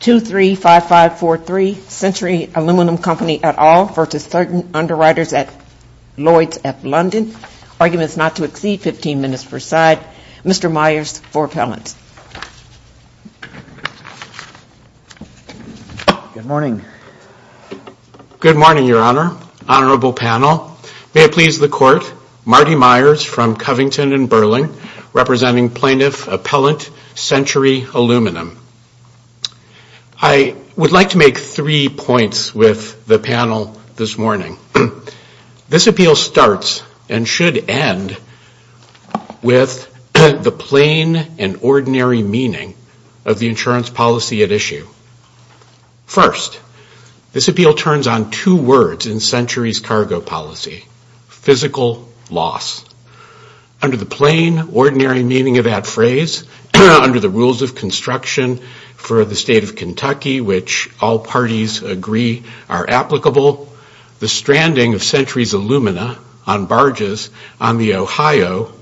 235543 Century Aluminum Company et al. v. Certain Underwriters at Lloyd's London. Arguments not to exceed 15 minutes per side. Mr. Myers for appellant. Good morning. Good morning, Your Honor, honorable panel. May it please the Court, Marty Myers from Covington and Burling representing plaintiff appellant Century Aluminum. I would like to make three points with the panel this morning. This appeal starts and should end with the plain and ordinary meaning of the insurance policy at issue. First, this appeal turns on two words in Century's cargo policy, physical loss. Under the plain, ordinary meaning of that phrase, under the rules of construction for the state of Kentucky, which all parties agree are applicable, the stranding of Century's alumina on barges on the Ohio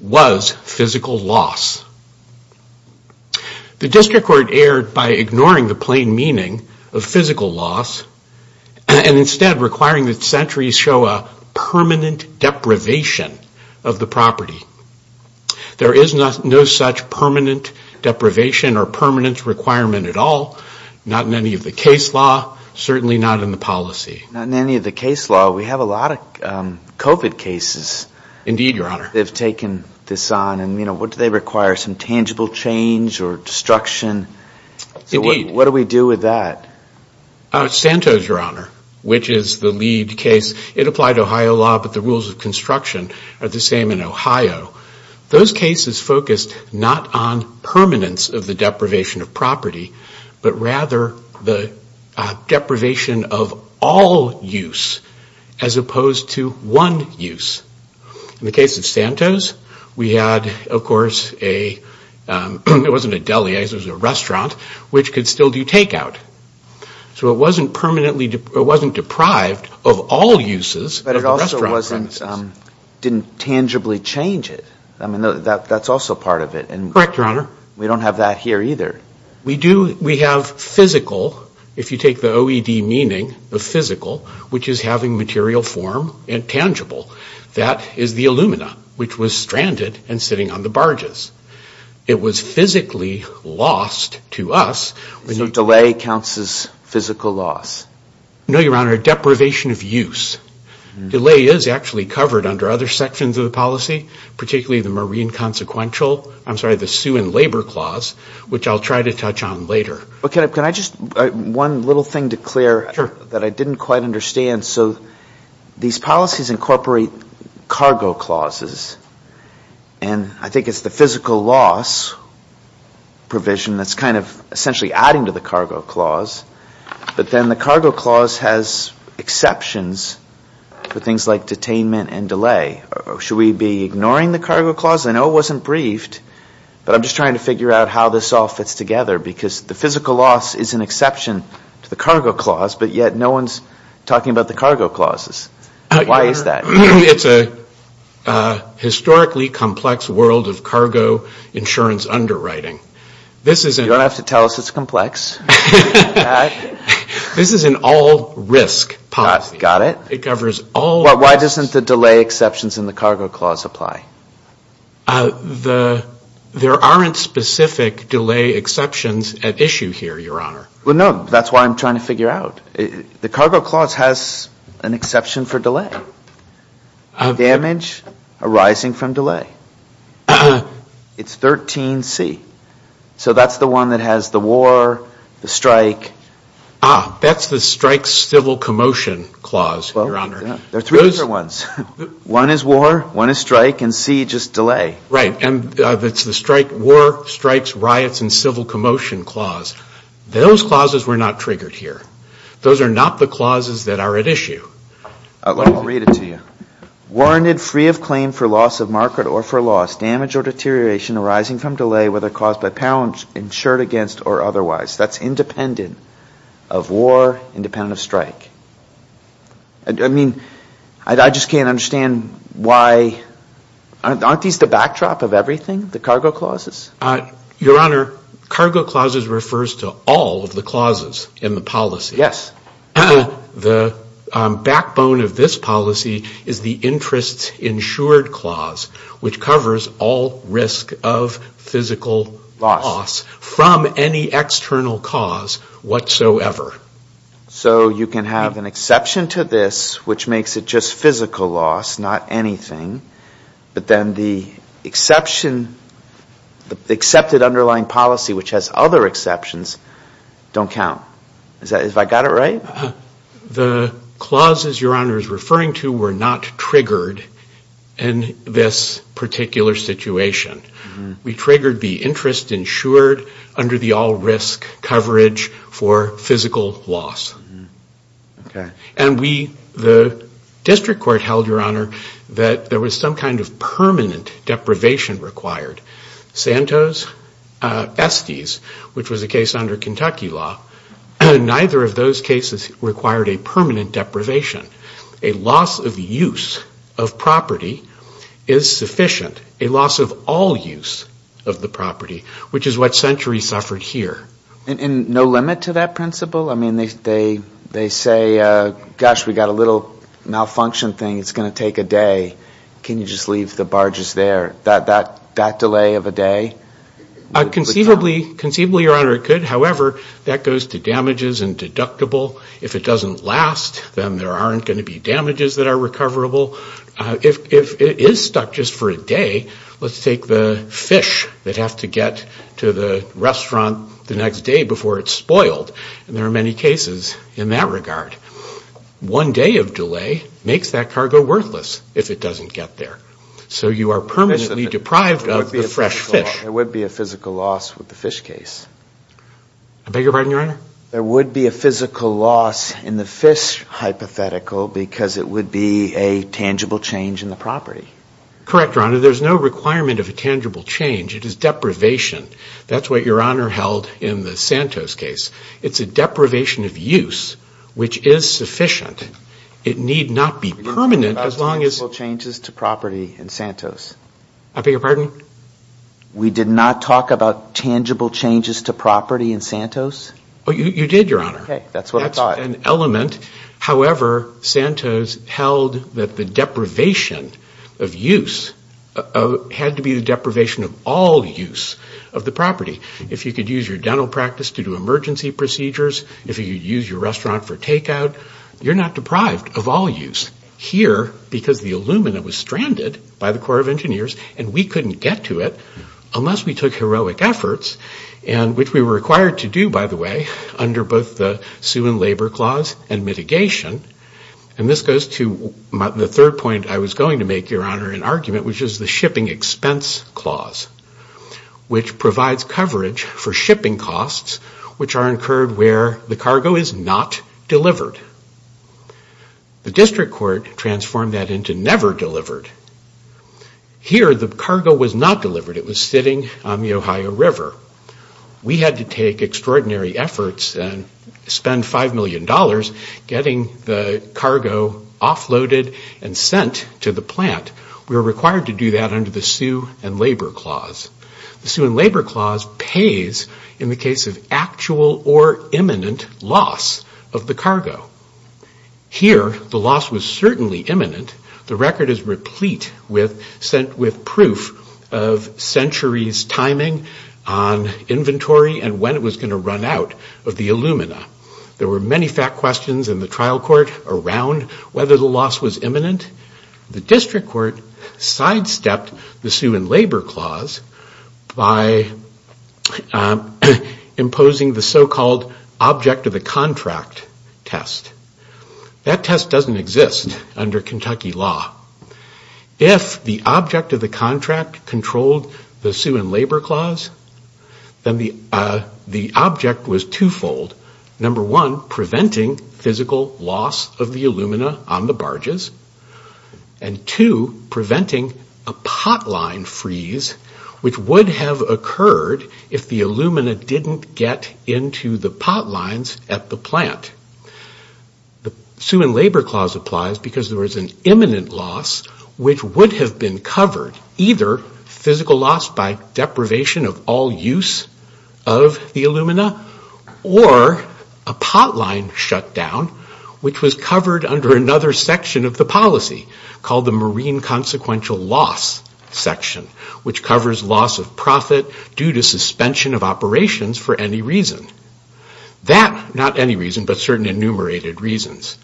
was physical loss. The district court erred by ignoring the plain meaning of physical loss and the instead requiring that Century's show a permanent deprivation of the property. There is no such permanent deprivation or permanence requirement at all, not in any of the case law, certainly not in the policy. Not in any of the case law. We have a lot of COVID cases. Indeed, Your Honor. They've taken this on and, you know, what do they require? Some tangible change or destruction? Indeed. What do we do with that? Santos, Your Honor, which is the lead case. It applied Ohio law, but the rules of construction are the same in Ohio. Those cases focused not on permanence of the deprivation of property, but rather the deprivation of all use as opposed to one use. In the case of Santos, we had, of course, a separation of use. It wasn't a deli. It was a restaurant which could still do takeout. So it wasn't deprived of all uses. But it also didn't tangibly change it. I mean, that's also part of it. Correct, Your Honor. We don't have that here either. We do. We have physical, if you take the OED meaning, the physical, which is having material form and tangible. That is the alumina which was stranded and sitting on the barges. It was physically lost to us. So delay counts as physical loss? No, Your Honor. Deprivation of use. Delay is actually covered under other sections of the policy, particularly the marine consequential. I'm sorry, the sue and labor clause, which I'll try to touch on later. Can I just, one little thing to clear that I didn't quite understand. So these policies incorporate cargo clauses. And I think it's the physical loss provision that's kind of essentially adding to the cargo clause. But then the cargo clause has exceptions for things like detainment and delay. Should we be ignoring the cargo clause? I know it wasn't briefed, but I'm just trying to figure out how this all fits together because the physical loss is an exception to the cargo clause, but yet no one's talking about the cargo clauses. Why is that? It's a historically complex world of cargo insurance underwriting. You don't have to tell us it's complex. This is an all risk policy. Got it. Why doesn't the delay exceptions in the cargo clause apply? There aren't specific delay exceptions at issue here, Your Honor. No, that's why I'm trying to figure out. The cargo clause has an exception for delay. Damage arising from delay. It's 13C. So that's the one that has the war, the strike. Ah, that's the strike civil commotion clause, Your Honor. There are three different ones. One is war, one is strike, and C just delay. Right. And that's the strike war, strikes, riots, and civil commotion clause. Those clauses were not triggered here. Those are not the clauses that are at issue. I'll read it to you. Warranted free of claim for loss of market or for loss, damage or deterioration arising from delay, whether caused by pounds, insured against, or otherwise. That's independent of war, independent of strike. I mean, I just can't understand why, aren't these the backdrop of everything, the cargo clauses? Your Honor, cargo clauses refers to all of the clauses in the policy. Yes. The backbone of this policy is the interest insured clause, which covers all risk of physical loss from any external cause whatsoever. So you can have an exception to this, which makes it just physical loss, not anything, but then the exception, the accepted underlying policy, which has other exceptions, don't count. Is that, have I got it right? The clauses Your Honor is referring to were not triggered in this particular situation. We triggered the interest insured under the all risk coverage for physical loss. Okay. And we, the district court held, Your Honor, that there was some kind of permanent deprivation required. Santos, Estes, which was a case under Kentucky law, neither of those cases required a permanent deprivation. A loss of use of property is sufficient. A loss of all use of the property, which is what Century suffered here. And no limit to that principle? I mean, they say, gosh, we got a little malfunction thing, it's going to take a day. Can you just leave the barges there? That delay of a day? Conceivably, Your Honor, it could. However, that goes to damages and deductible. If it doesn't last, then there aren't going to be damages that are recoverable. If it is stuck just for a day, let's take the fish that have to get to the restaurant the next day before it's spoiled. And there are many cases in that regard. One day of delay makes that cargo worthless if it doesn't get there. So you are permanently deprived of the fresh fish. There would be a physical loss with the fish case. I beg your pardon, Your Honor? There would be a physical loss in the fish hypothetical because it would be a tangible change in the property. Correct, Your Honor. There's no requirement of a tangible change. It is deprivation. That's what Your Honor held in the Santos case. It's a deprivation of use which is sufficient. It need not be permanent as long as... We didn't talk about tangible changes to property in Santos. I beg your pardon? We did not talk about tangible changes to property in Santos? You did, Your Honor. Okay, that's what I thought. That's an element. However, Santos held that the deprivation of use had to be the deprivation of all use of the property. If you could use your dental practice to do emergency procedures, if you could use your restaurant for take-out, you're not deprived of all use. Here, because the Illumina was stranded by the Corps of Engineers and we couldn't get to it unless we took heroic efforts, which we were required to do, by the way, under both the Sue and Labor Clause and mitigation, and this goes to the third point I was going to make, Your Honor, in argument, which is the Shipping Expense Clause, which provides coverage for shipping costs which are incurred where the cargo is not delivered. The district court transformed that into never delivered. Here, the cargo was not delivered. It was sitting on the Ohio River. We had to take extraordinary efforts and spend $5 million getting the cargo offloaded and sent to the plant. We were required to do that under the Sue and Labor Clause. The Sue and Labor Clause pays in the case of actual or imminent loss of the cargo. Here, the loss was certainly imminent. The record is replete with proof of centuries timing on inventory and when it was going to run out of the Illumina. There were many fact questions in the trial court around whether the loss was imminent. The district court sidestepped the Sue and Labor Clause by imposing the so-called object of the contract test. That test doesn't exist under Kentucky law. If the object of the contract controlled the Sue and Labor Clause, then the object was twofold. Number one, preventing physical loss of the Illumina on the barges and two, preventing a pot line freeze which would have occurred if the Illumina didn't get into the pot lines at the plant. The Sue and Labor Clause applies because there was an imminent loss which would have been covered either physical loss by deprivation of all use of the Illumina or a pot line shutdown which was covered under another section of the policy called the Marine Consequential Loss section which covers loss of profit due to suspension of operations for any reason. That, not any reason, but certain enumerated reasons.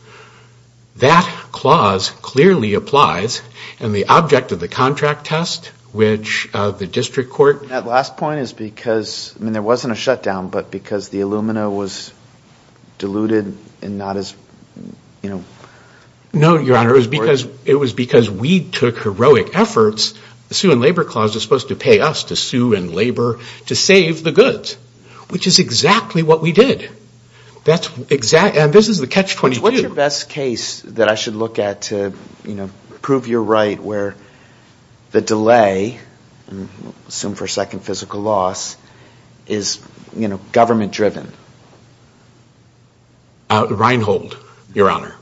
That clause clearly applies and the object of the contract test which the district court... That last point is because, I mean there wasn't a shutdown, but because the Illumina was diluted and not as... No Your Honor, it was because we took heroic efforts. The Sue and Labor Clause is supposed to pay us to sue and labor to save the goods which is exactly what we did. And this is the catch 22. What's your best case that I should look at to prove you're right where the delay, I assume for a second physical loss, is government driven? Reinhold, Your Honor.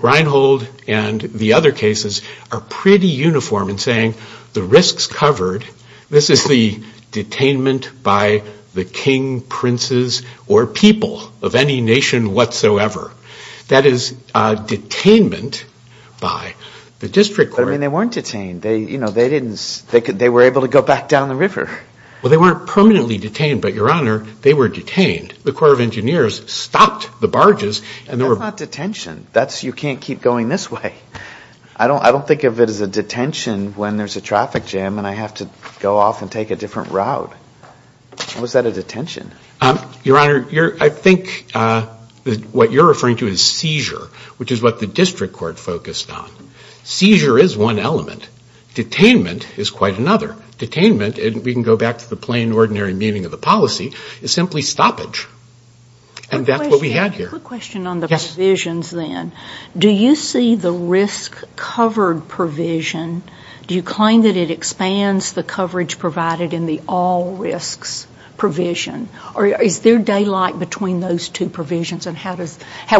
Reinhold and the other cases are pretty uniform in saying the risks covered. This is the detainment by the king, princes, or people of any nation whatsoever. That is detainment by the district court. But I mean they weren't detained. They were able to go back down the river. Well, they weren't permanently detained, but Your Honor, they were detained. The Corps of Engineers stopped the barges and they were... That's not detention. You can't keep going this way. I don't think of it as a detention when there's a traffic jam and I have to go off and take a different route. Was that a detention? Your Honor, I think what you're referring to is seizure which is what the district court focused on. Seizure is one element. Detainment is quite another. Detainment, we can go back to the plain ordinary meaning of the policy, is simply stoppage. And that's what we had here. I have a question on the provisions then. Do you see the risk covered provision, do you claim that it expands the coverage provided in the all risks provision? Or is there daylight between those two provisions and how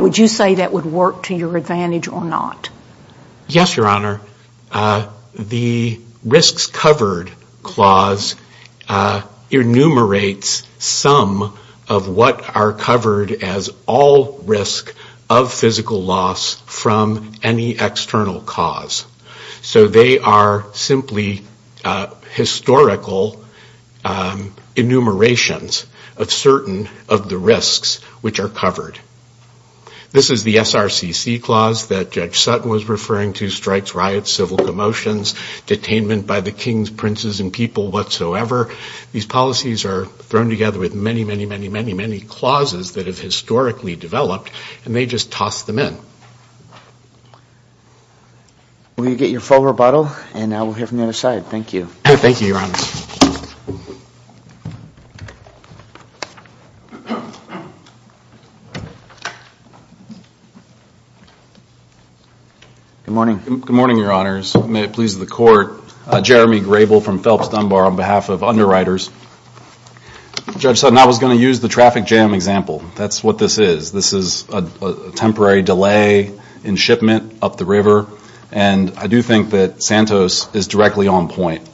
would you say that would work to your advantage or not? Yes, Your Honor. The risks covered clause enumerates some of what are covered as all risk of physical loss from any external cause. So they are simply historical enumerations of certain of the risks which are covered. This is the SRCC clause that Judge Sutton was referring to, strikes, riots, civil commotions, detainment by the kings, princes, and people whatsoever. These policies are thrown together with many, many, many, many, many clauses that have historically developed and they just toss them in. Will you get your full rebuttal? And now we'll hear from the other side. Thank you. Thank you, Your Honor. Good morning. Good morning, Your Honors. May it please the Court. Jeremy Grable from Phelps Dunbar on behalf of Underwriters. Judge Sutton, I was going to use the traffic jam example. That's what this is. This is a temporary delay in shipment up the river. And I do think that Santos is directly on point.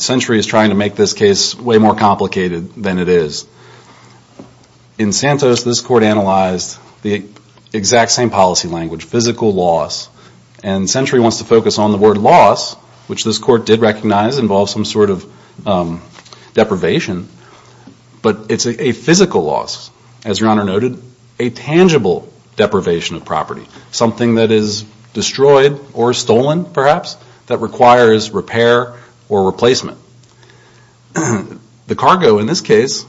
Century is trying to make this case way more complicated than it is. In Santos, this Court analyzed the exact same policy language, physical loss. And Century wants to focus on the word loss, which this Court did recognize involves some sort of deprivation. But it's a physical loss, as Your Honor noted, a tangible deprivation of property. Something that is destroyed or stolen, perhaps, that requires repair or replacement. The cargo in this case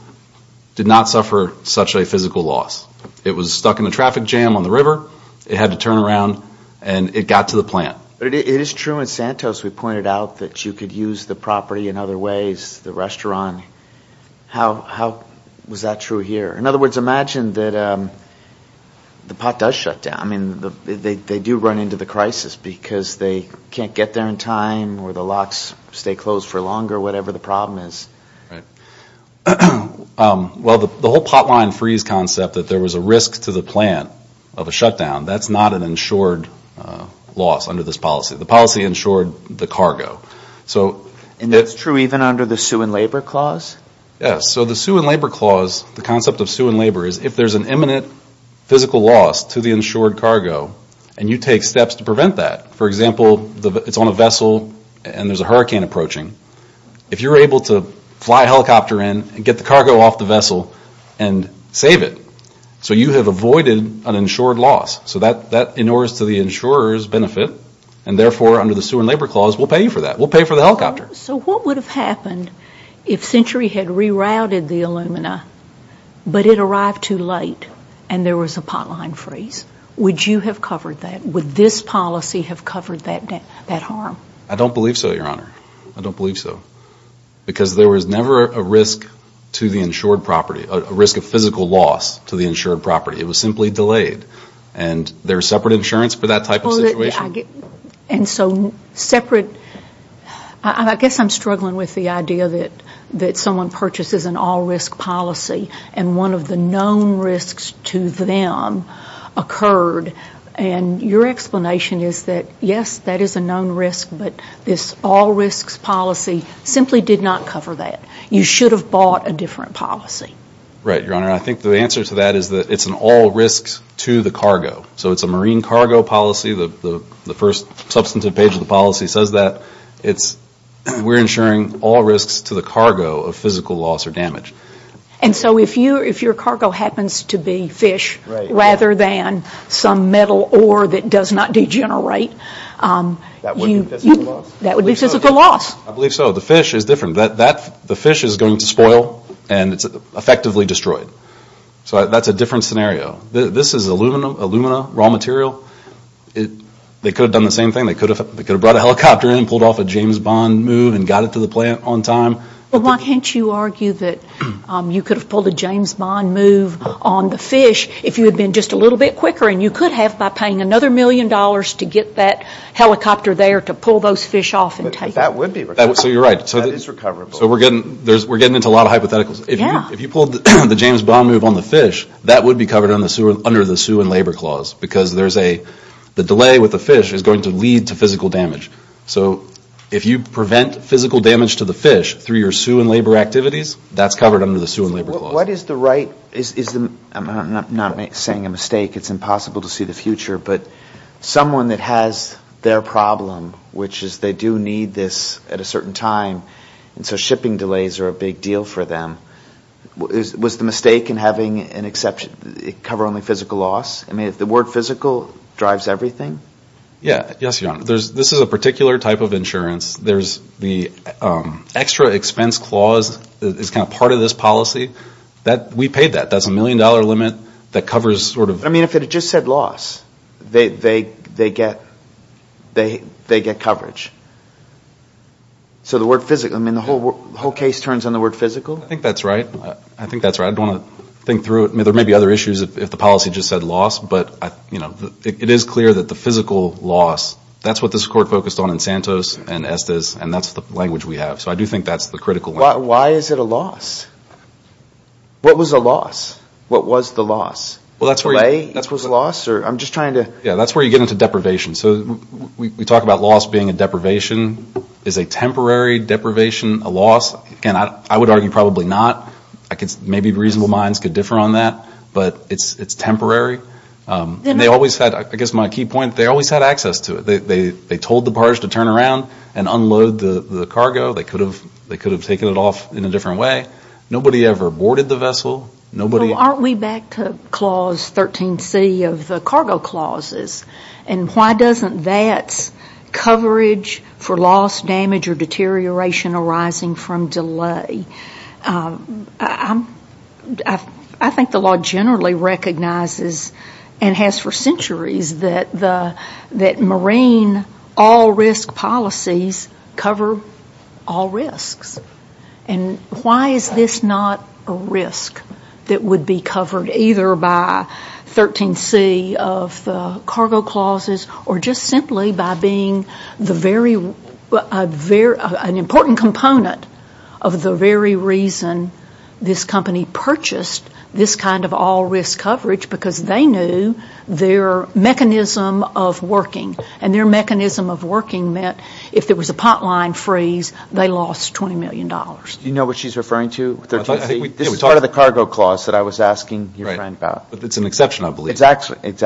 did not suffer such a physical loss. It was stuck in a traffic jam on the river. It had to turn around and it got to the plant. It is true in Santos, we pointed out, that you could use the property in other ways, the restaurant. How was that true here? In other words, imagine that the pot does shut down. I mean, they do run into the crisis because they can't get there in time or the locks stay closed for longer, whatever the problem is. Right. Well, the whole pot line freeze concept, that there was a risk to the plant of a shutdown, that's not an insured loss under this policy. The policy insured the cargo. And that's true even under the Sue and Labor Clause? Yes. So the Sue and Labor Clause, the concept of Sue and Labor, is if there's an imminent physical loss to the insured cargo, and you take steps to prevent that, for example, it's on a vessel and there's a hurricane approaching, if you're able to fly a helicopter in and get the cargo off the vessel and save it. So you have avoided an insured loss. So that inures to the insurer's benefit and therefore under the Sue and Labor Clause, we'll pay you for that. We'll pay for the helicopter. So what would have happened if Century had rerouted the Illumina but it arrived too late and there was a pot line freeze? Would you have covered that? Would this policy have covered that harm? I don't believe so, Your Honor. I don't believe so. Because there was never a risk to the insured property, a risk of physical loss to the insured property. It was simply delayed. And there's separate insurance for that type of situation? And so separate, I guess I'm struggling with the idea that someone purchases an all-risk policy and one of the known risks to them occurred. And your explanation is that, yes, that is a known risk, but this all-risks policy simply did not cover that. You should have bought a different policy. Right, Your Honor. I think the answer to that is that it's an all-risk to the cargo. So it's a marine cargo policy. The first substantive page of the policy says that. We're insuring all risks to the cargo of physical loss or damage. And so if your cargo happens to be fish rather than some metal ore that does not degenerate, that would be physical loss? I believe so. The fish is different. The fish is going to spoil and it's effectively destroyed. So that's a different scenario. This is alumina, raw material. They could have done the same thing. They could have brought a helicopter in and pulled off a James Bond move and got it to the plant on time. But why can't you argue that you could have pulled a James Bond move on the fish if you had been just a little bit quicker and you could have by paying another million dollars to get that helicopter there to pull those fish off and take them? That would be recoverable. That is recoverable. So we're getting into a lot of hypotheticals. If you pulled the James Bond move on the fish, that would be covered under the Sue and Labor Clause because the delay with the fish is going to lead to physical damage. So if you prevent physical damage to the fish through your Sue and Labor activities, that's covered under the Sue and Labor Clause. What is the right, I'm not saying a mistake, it's impossible to see the future, but someone that has their problem, which is they do need this at a certain time and so shipping delays are a big deal for them, was the mistake in having it cover only physical loss? I mean the word physical drives everything? Yes, Your Honor. This is a particular type of insurance. The extra expense clause is not part of this policy. We paid that. That's a million dollar limit that covers sort of... I mean if it had just said loss, they get coverage. So the word physical, I mean the whole case turns on the word physical? I think that's right. I think that's right. I don't want to think through it. There may be other issues if the policy just said loss, but it is clear that the physical loss, that's what this Court focused on in Santos and Estes and that's the language we have. So I do think that's the critical language. Why is it a loss? What was a loss? What was the loss? Delay was a loss or I'm just trying to... Yeah, that's where you get into deprivation. So we talk about loss being a deprivation. Is a temporary deprivation a loss? Again, I would argue probably not. Maybe reasonable minds could differ on that, but it's temporary. They always had, I guess my key point, they always had access to it. They told the barge to turn around and unload the cargo. They could have taken it off in a different way. Nobody ever boarded the vessel. Well, aren't we back to Clause 13C of the cargo clauses? And why doesn't that's coverage for loss, damage or deterioration arising from delay? I think the law generally recognizes and has for centuries that marine all risk policies cover all risks. And why is this not a risk that would be covered either by 13C of the cargo clauses or just simply by being an important component of the very reason this company purchased this kind of all risk coverage because they knew their mechanism of working and their mechanism of working meant if there was a pot line freeze, they lost $20 million. You know what she's referring to with 13C? This is part of the cargo clause that I was asking your friend about. Right, but it's an exception, I believe. Exactly. It's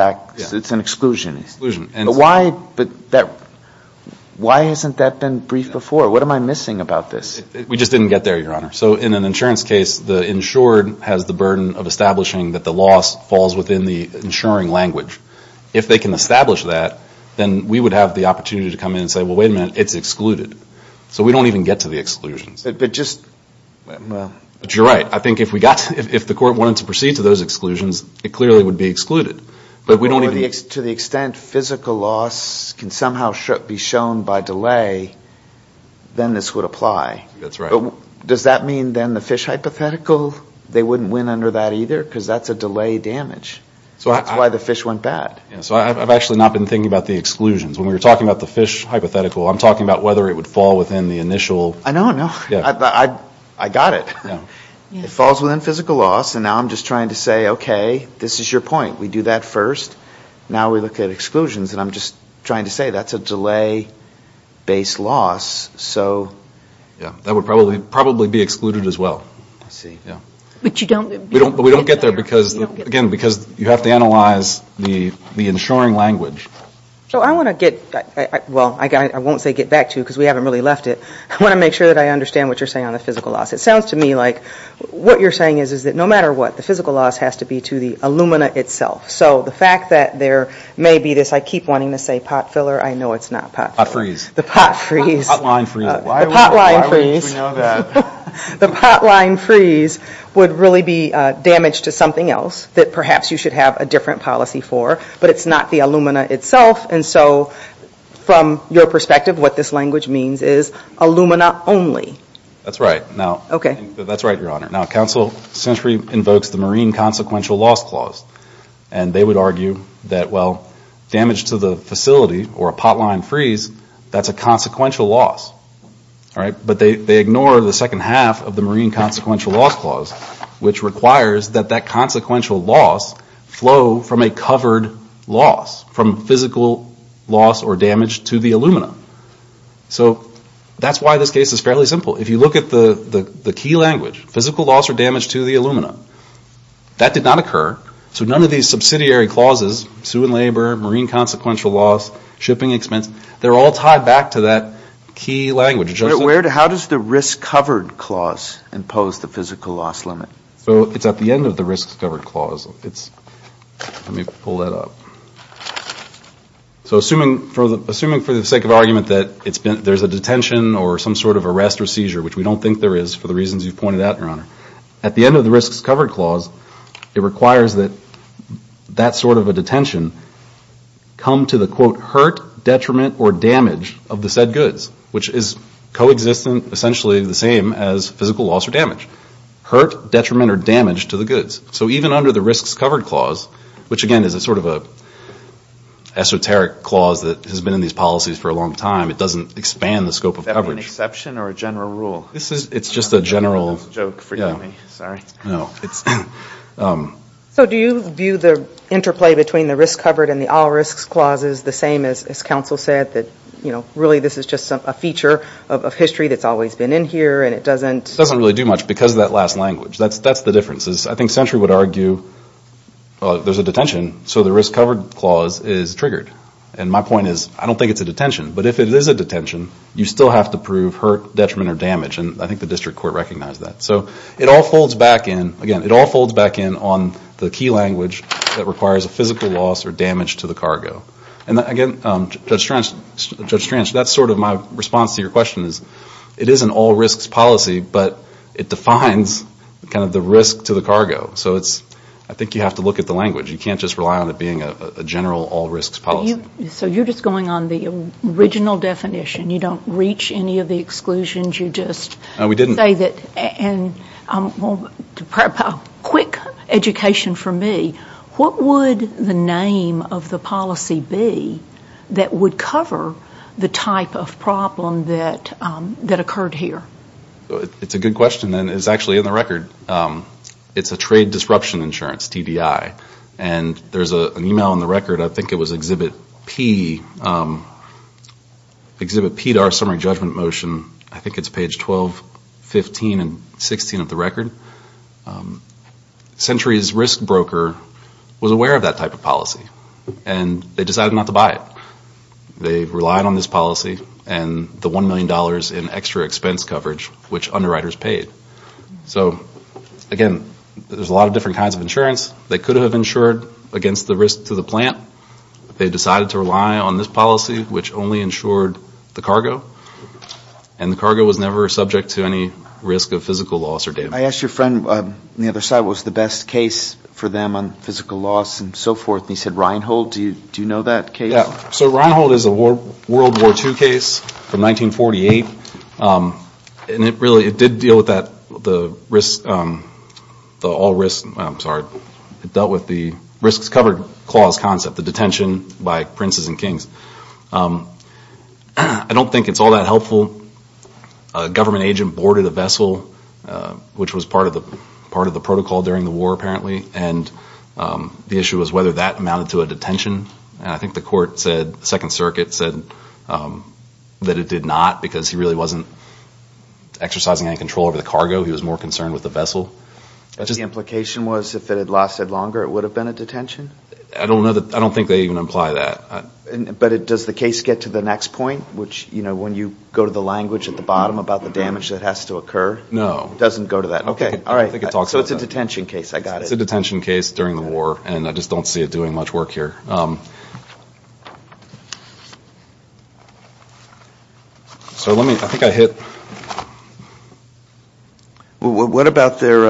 an exclusion. Exclusion. But why hasn't that been briefed before? What am I missing about this? We just didn't get there, Your Honor. So in an insurance case, the insured has the burden of establishing that the loss falls within the insuring language. If they can establish that, then we would have the opportunity to come in and say, wait a minute, it's excluded. So we don't even get to the exclusions. But just... But you're right. I think if the court wanted to proceed to those exclusions, it clearly would be excluded. But to the extent physical loss can somehow be shown by delay, then this would apply. That's right. Does that mean then the fish hypothetical, they wouldn't win under that either? Because that's a delay damage. That's why the fish went bad. So I've actually not been thinking about the exclusions. When we were talking about the fish hypothetical, I'm talking about whether it would fall within the initial... I know, I know. I got it. It falls within physical loss, and now I'm just trying to say, okay, this is your point. We do that first. Now we look at exclusions, and I'm just trying to say that's a delay-based loss, so... Yeah, that would probably be excluded as well. I see. But you don't... But we don't get there because, again, because you have to analyze the insuring language. So I want to get... Well, I won't say get back to you because we haven't really left it. I want to make sure that I understand what you're saying on the physical loss. It sounds to me like what you're saying is that no matter what, the physical loss has to be to the alumina itself. So the fact that there may be this... I keep wanting to say pot filler. I know it's not pot. Pot freeze. The pot freeze. Pot line freeze. The pot line freeze. Why would we know that? The pot line freeze would really be damage to something else that perhaps you should have a different policy for, but it's not the alumina itself. And so from your perspective, what this language means is alumina only. That's right. Now... Okay. That's right, Your Honor. Now, Counsel Sensory invokes the Marine Consequential Loss Clause, and they would argue that, well, damage to the facility or a pot line freeze, that's consequential loss. But they ignore the second half of the Marine Consequential Loss Clause, which requires that that consequential loss flow from a covered loss, from physical loss or damage to the alumina. So that's why this case is fairly simple. If you look at the key language, physical loss or damage to the alumina, that did not occur. So none of these subsidiary clauses, sue and labor, Marine Consequential Loss, shipping expense, they're all tied back to that key language. How does the Risk Covered Clause impose the physical loss limit? So it's at the end of the Risk Covered Clause. Let me pull that up. So assuming for the sake of argument that there's a detention or some sort of arrest or seizure, which we don't think there is for the reasons you've pointed out, Your Honor, at the end of the Risk Covered Clause, it requires that that sort of a detention come to the, quote, hurt, detriment, or damage of the said goods, which is co-existent, essentially the same as physical loss or damage. Hurt, detriment, or damage to the goods. So even under the Risks Covered Clause, which again is a sort of an esoteric clause that has been in these policies for a long time, it doesn't expand the scope of coverage. Is that an exception or a general rule? It's just a general. I don't know if that's a joke for you or me. Sorry. So do you view the interplay between the Risk Covered and the All Risks Clause as the same as counsel said, that really this is just a feature of history that's always been in here and it doesn't... It doesn't really do much because of that last language. That's the difference. I think Century would argue there's a detention, so the Risk Covered Clause is triggered. And my point is, I don't think it's a detention. But if it is a detention, you still have to prove hurt, detriment, or damage. And I think the district court recognized that. So it all folds back in, again, it all folds back in on the key language that requires a physical loss or damage to the cargo. And again, Judge Strange, that's sort of my response to your question is, it is an all risks policy, but it defines kind of the risk to the cargo. So it's, I think you have to look at the language. You can't just rely on it being a general all risks policy. So you're just going on the original definition. You don't reach any of the exclusions. You just say that, and to prep a quick education for me, what would the nature of the risk name of the policy be that would cover the type of problem that occurred here? It's a good question, and it's actually in the record. It's a trade disruption insurance, TDI. And there's an email in the record, I think it was Exhibit P, Exhibit P to our summary judgment motion, I think it's page 12, 15, and 16 of the record. Century's risk broker was aware of that type of policy, and they decided not to buy it. They relied on this policy and the $1 million in extra expense coverage, which underwriters paid. So again, there's a lot of different kinds of insurance. They could have insured against the risk to the plant. They decided to rely on this policy, which only insured the cargo, and the cargo was never subject to any risk of physical loss or damage. I asked your friend on the other side what was the best case for them on physical loss and so forth, and he said Reinhold. Do you know that case? So Reinhold is a World War II case from 1948, and it really did deal with the risks covered clause concept, the detention by princes and kings. I don't think it's all that helpful. A government agent boarded a vessel, which was part of the protocol during the war apparently, and the issue was whether that amounted to a detention. I think the court said, the Second Circuit said that it did not, because he really wasn't exercising any control over the cargo. He was more concerned with the vessel. The implication was if it had lasted longer, it would have been a detention? I don't think they even imply that. But does the case get to the next point, which when you go to the language at the bottom about the damage that has to occur? No. Doesn't go to that. Okay. All right. I don't think it talks about that. So it's a detention case. I got it. It's a detention case during the war, and I just don't see it doing much work here. So let me, I think I hit. Well, what about their,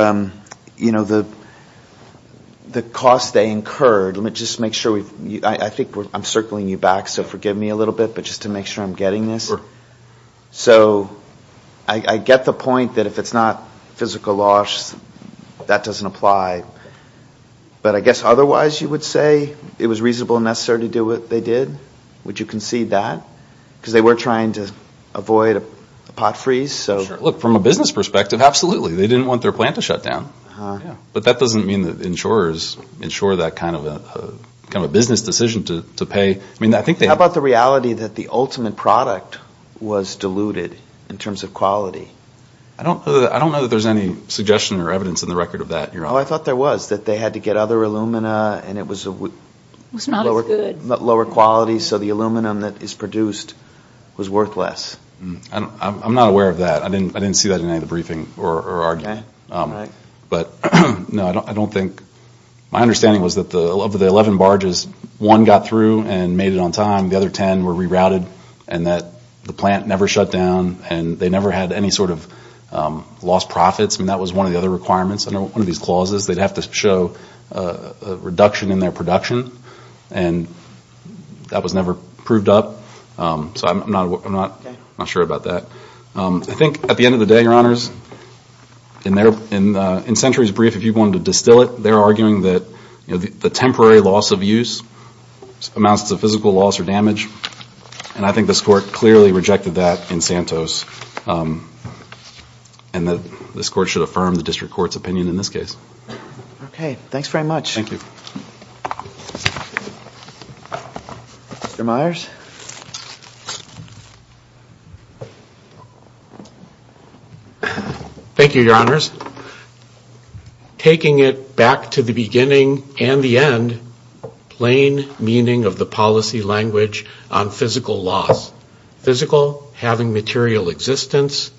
you know, the cost they incurred? Let me just make sure we've, I think I'm circling you back, so forgive me a little bit, but just to make sure I'm getting this. So I get the point that if it's not physical loss, that doesn't apply. But I guess otherwise you would say it was reasonable and necessary to do what they did? Would you concede that? Because they were trying to avoid a pot freeze, so. Sure. Look, from a business perspective, absolutely. They didn't want their plant to shut down. But that doesn't mean that insurers insure that kind of a business decision to pay. I mean, I think they. How about the reality that the ultimate product was diluted in terms of quality? I don't know that there's any suggestion or evidence in the record of that, Your Honor. Oh, I thought there was, that they had to get other alumina, and it was a lower quality so the aluminum that is produced was worth less. I'm not aware of that. I didn't see that in any of the briefing or argument. But no, I don't think, my understanding was that of the 11 barges, one got through and made it on time, the other 10 were rerouted, and that the plant never shut down, and they never had any sort of lost profits. I mean, that was one of the other requirements under one of these clauses. They'd have to show a reduction in their production, and that was never proved up. So I'm not sure about that. I think at the end of the day, Your Honors, in Century's brief, if you wanted to distill it, they're arguing that the temporary loss of use amounts to physical loss or damage. And I think this Court clearly rejected that in Santos. And this Court should affirm the Supreme Court's opinion in this case. Okay. Thanks very much. Mr. Myers. Thank you, Your Honors. Taking it back to the beginning and the end, plain meaning of the policy language on physical loss. Physical, having material existence.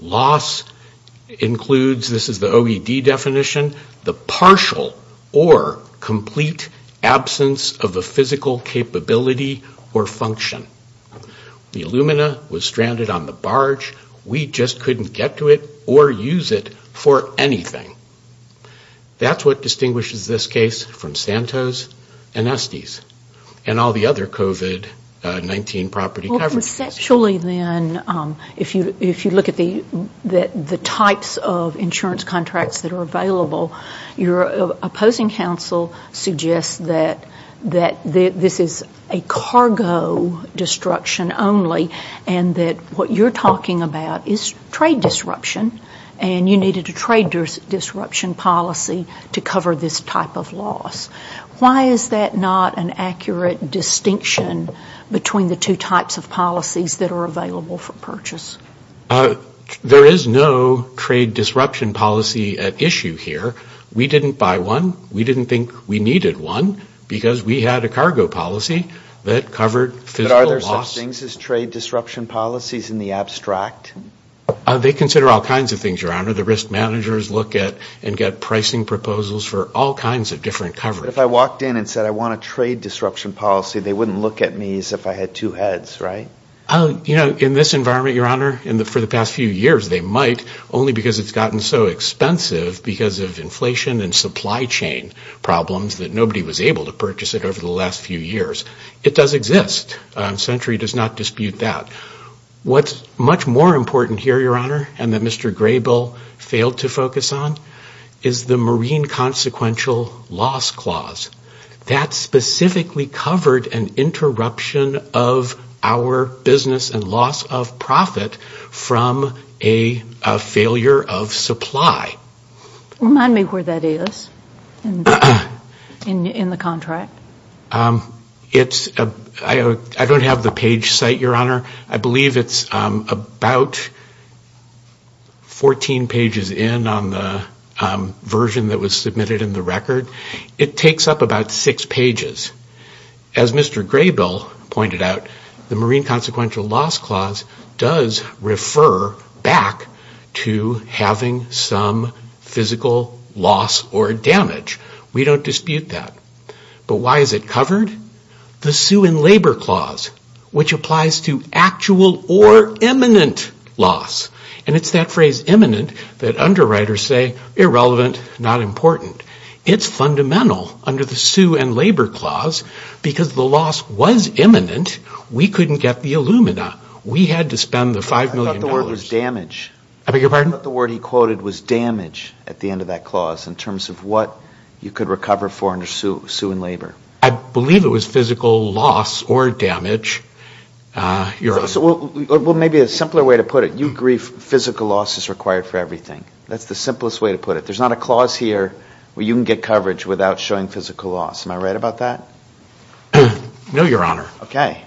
Loss includes, this is the OED definition, the partial or complete absence of a physical capability or function. The Illumina was stranded on the barge. We just couldn't get to it or use it for anything. That's what distinguishes this case from Santos and Estes and all the other COVID-19 property coverages. Conceptually, then, if you look at the types of insurance contracts that are available, your opposing counsel suggests that this is a cargo destruction only, and that what you're talking about is trade disruption, and you needed a trade disruption policy to cover this type of loss. Why is that not an accurate distinction between the two types of policies that are available for purchase? There is no trade disruption policy at issue here. We didn't buy one. We didn't think we needed one, because we had a cargo policy that covered physical loss. But are there such things as trade disruption policies in the abstract? They consider all kinds of things, Your Honor. The risk managers look at and get pricing proposals for all kinds of different coverages. But if I walked in and said I want a trade disruption policy, they wouldn't look at me as if I had two heads, right? In this environment, Your Honor, for the past few years, they might, only because it's gotten so expensive because of inflation and supply chain problems that nobody was able to purchase it over the last few years. It does exist. Century does not dispute that. What's much more important here, Your Honor, and that Mr. Graybill failed to focus on, is the Marine Consequential Loss Clause. That specifically covered an interruption of our business and loss of profit from a failure of supply. Remind me where that is in the contract. I don't have the page site, Your Honor. I believe it's about 14 pages in on the page version that was submitted in the record. It takes up about six pages. As Mr. Graybill pointed out, the Marine Consequential Loss Clause does refer back to having some physical loss or damage. We don't dispute that. But why is it covered? The Sue and Labor Clause, which applies to actual or imminent loss. And it's that phrase, imminent, that underwriters say, irrelevant, not important. It's fundamental under the Sue and Labor Clause because the loss was imminent. We couldn't get the Illumina. We had to spend the $5 million. I thought the word was damage. I beg your pardon? I thought the word he quoted was damage at the end of that clause in terms of what you could recover for under Sue and Labor. I believe it was physical loss or damage. Well, maybe a simpler way to put it, you agree physical loss is required for everything. That's the simplest way to put it. There's not a clause here where you can get coverage without showing physical loss. Am I right about that? No, Your Honor. Okay.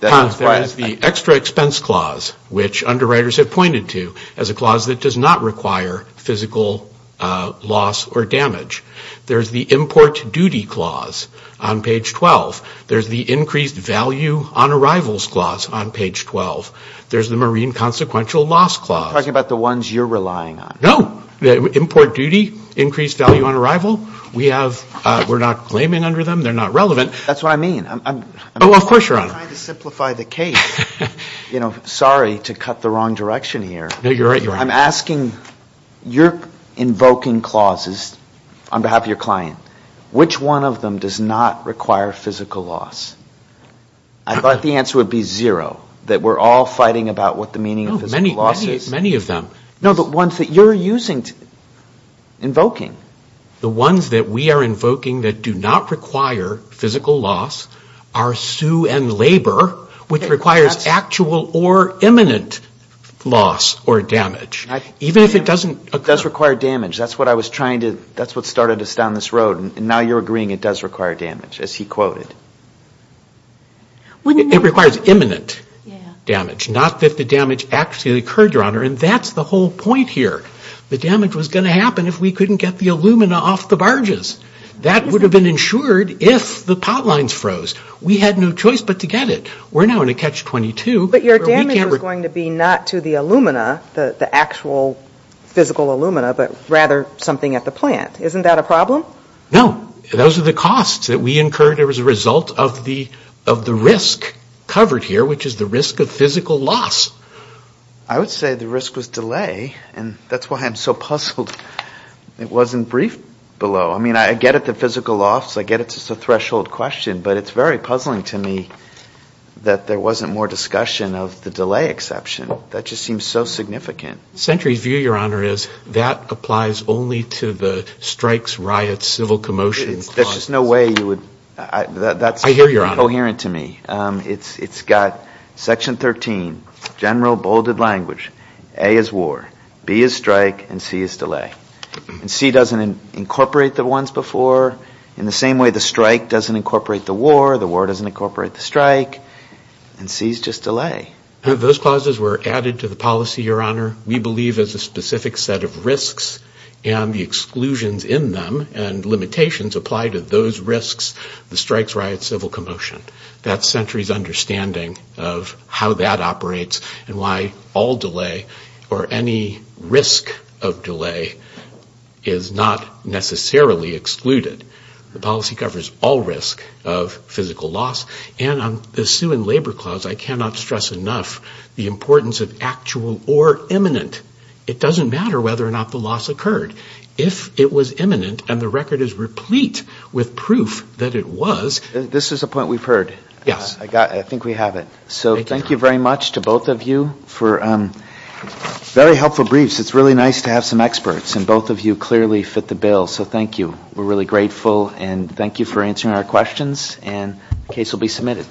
That's why I... There is the Extra Expense Clause, which underwriters have pointed to as a clause that does not require physical loss or damage. There's the Import Duty Clause on page 12. There's the Increased Value on Arrivals Clause on page 12. There's the Marine Consequential Loss Clause. You're talking about the ones you're relying on. No. Import Duty, Increased Value on Arrival, we're not claiming under them. They're not relevant. That's what I mean. Oh, of course, Your Honor. I'm trying to simplify the case. Sorry to cut the wrong direction here. No, you're right. I'm asking, you're invoking clauses on behalf of your client. Which one of them does not require physical loss? I thought the answer would be zero, that we're all fighting about what the meaning of physical loss is. Many of them. No, the ones that you're using, invoking. The ones that we are invoking that do not require physical loss are Sue and Labor, which requires actual or imminent loss or damage. Even if it doesn't... It does require damage. That's what I was trying to... That's what started us down this road, and now you're agreeing it does require damage, as he quoted. It requires imminent damage. Not that the damage actually occurred, Your Honor, and that's the whole point here. The damage was going to happen if we couldn't get the alumina off the barges. That would have been insured if the pot lines froze. We had no choice but to get it. We're now in a catch-22. But your damage was going to be not to the alumina, the actual physical alumina, but rather something at the plant. Isn't that a problem? No. Those are the costs that we incurred as a result of the risk covered here, which is the risk of physical loss. I would say the risk was delay, and that's why I'm so puzzled it wasn't briefed below. I mean, I get it, the physical loss. I get it's a threshold question, but it's very puzzling to me that there wasn't more discussion of the delay exception. That just seems so significant. Century's view, Your Honor, is that applies only to the strikes, riots, civil commotions. There's just no way you would... I hear you, Your Honor. ...that's coherent to me. It's got Section 13, general bolded language. A is war, B is strike, and C is delay. C doesn't incorporate the ones before, in the same way the strike doesn't incorporate the war, the war doesn't incorporate the strike, and C is just delay. Those clauses were added to the policy, Your Honor. We believe as a specific set of risks and the exclusions in them and limitations apply to those risks, the strikes, riots, civil commotion. That's Century's understanding of how that operates and why all delay or any risk of delay is not necessarily excluded. The policy covers all risk of physical loss. And on the Sue and Labor Clause, I cannot stress enough the importance of actual or imminent. It doesn't matter whether or not the loss occurred. If it was imminent and the record is replete with proof that it was... This is a point we've heard. Yes. I think we have it. So thank you very much to both of you for very helpful briefs. It's really nice to have some experts and both of you clearly fit the bill. So thank you. We're really grateful and thank you for answering our questions and case will be submitted.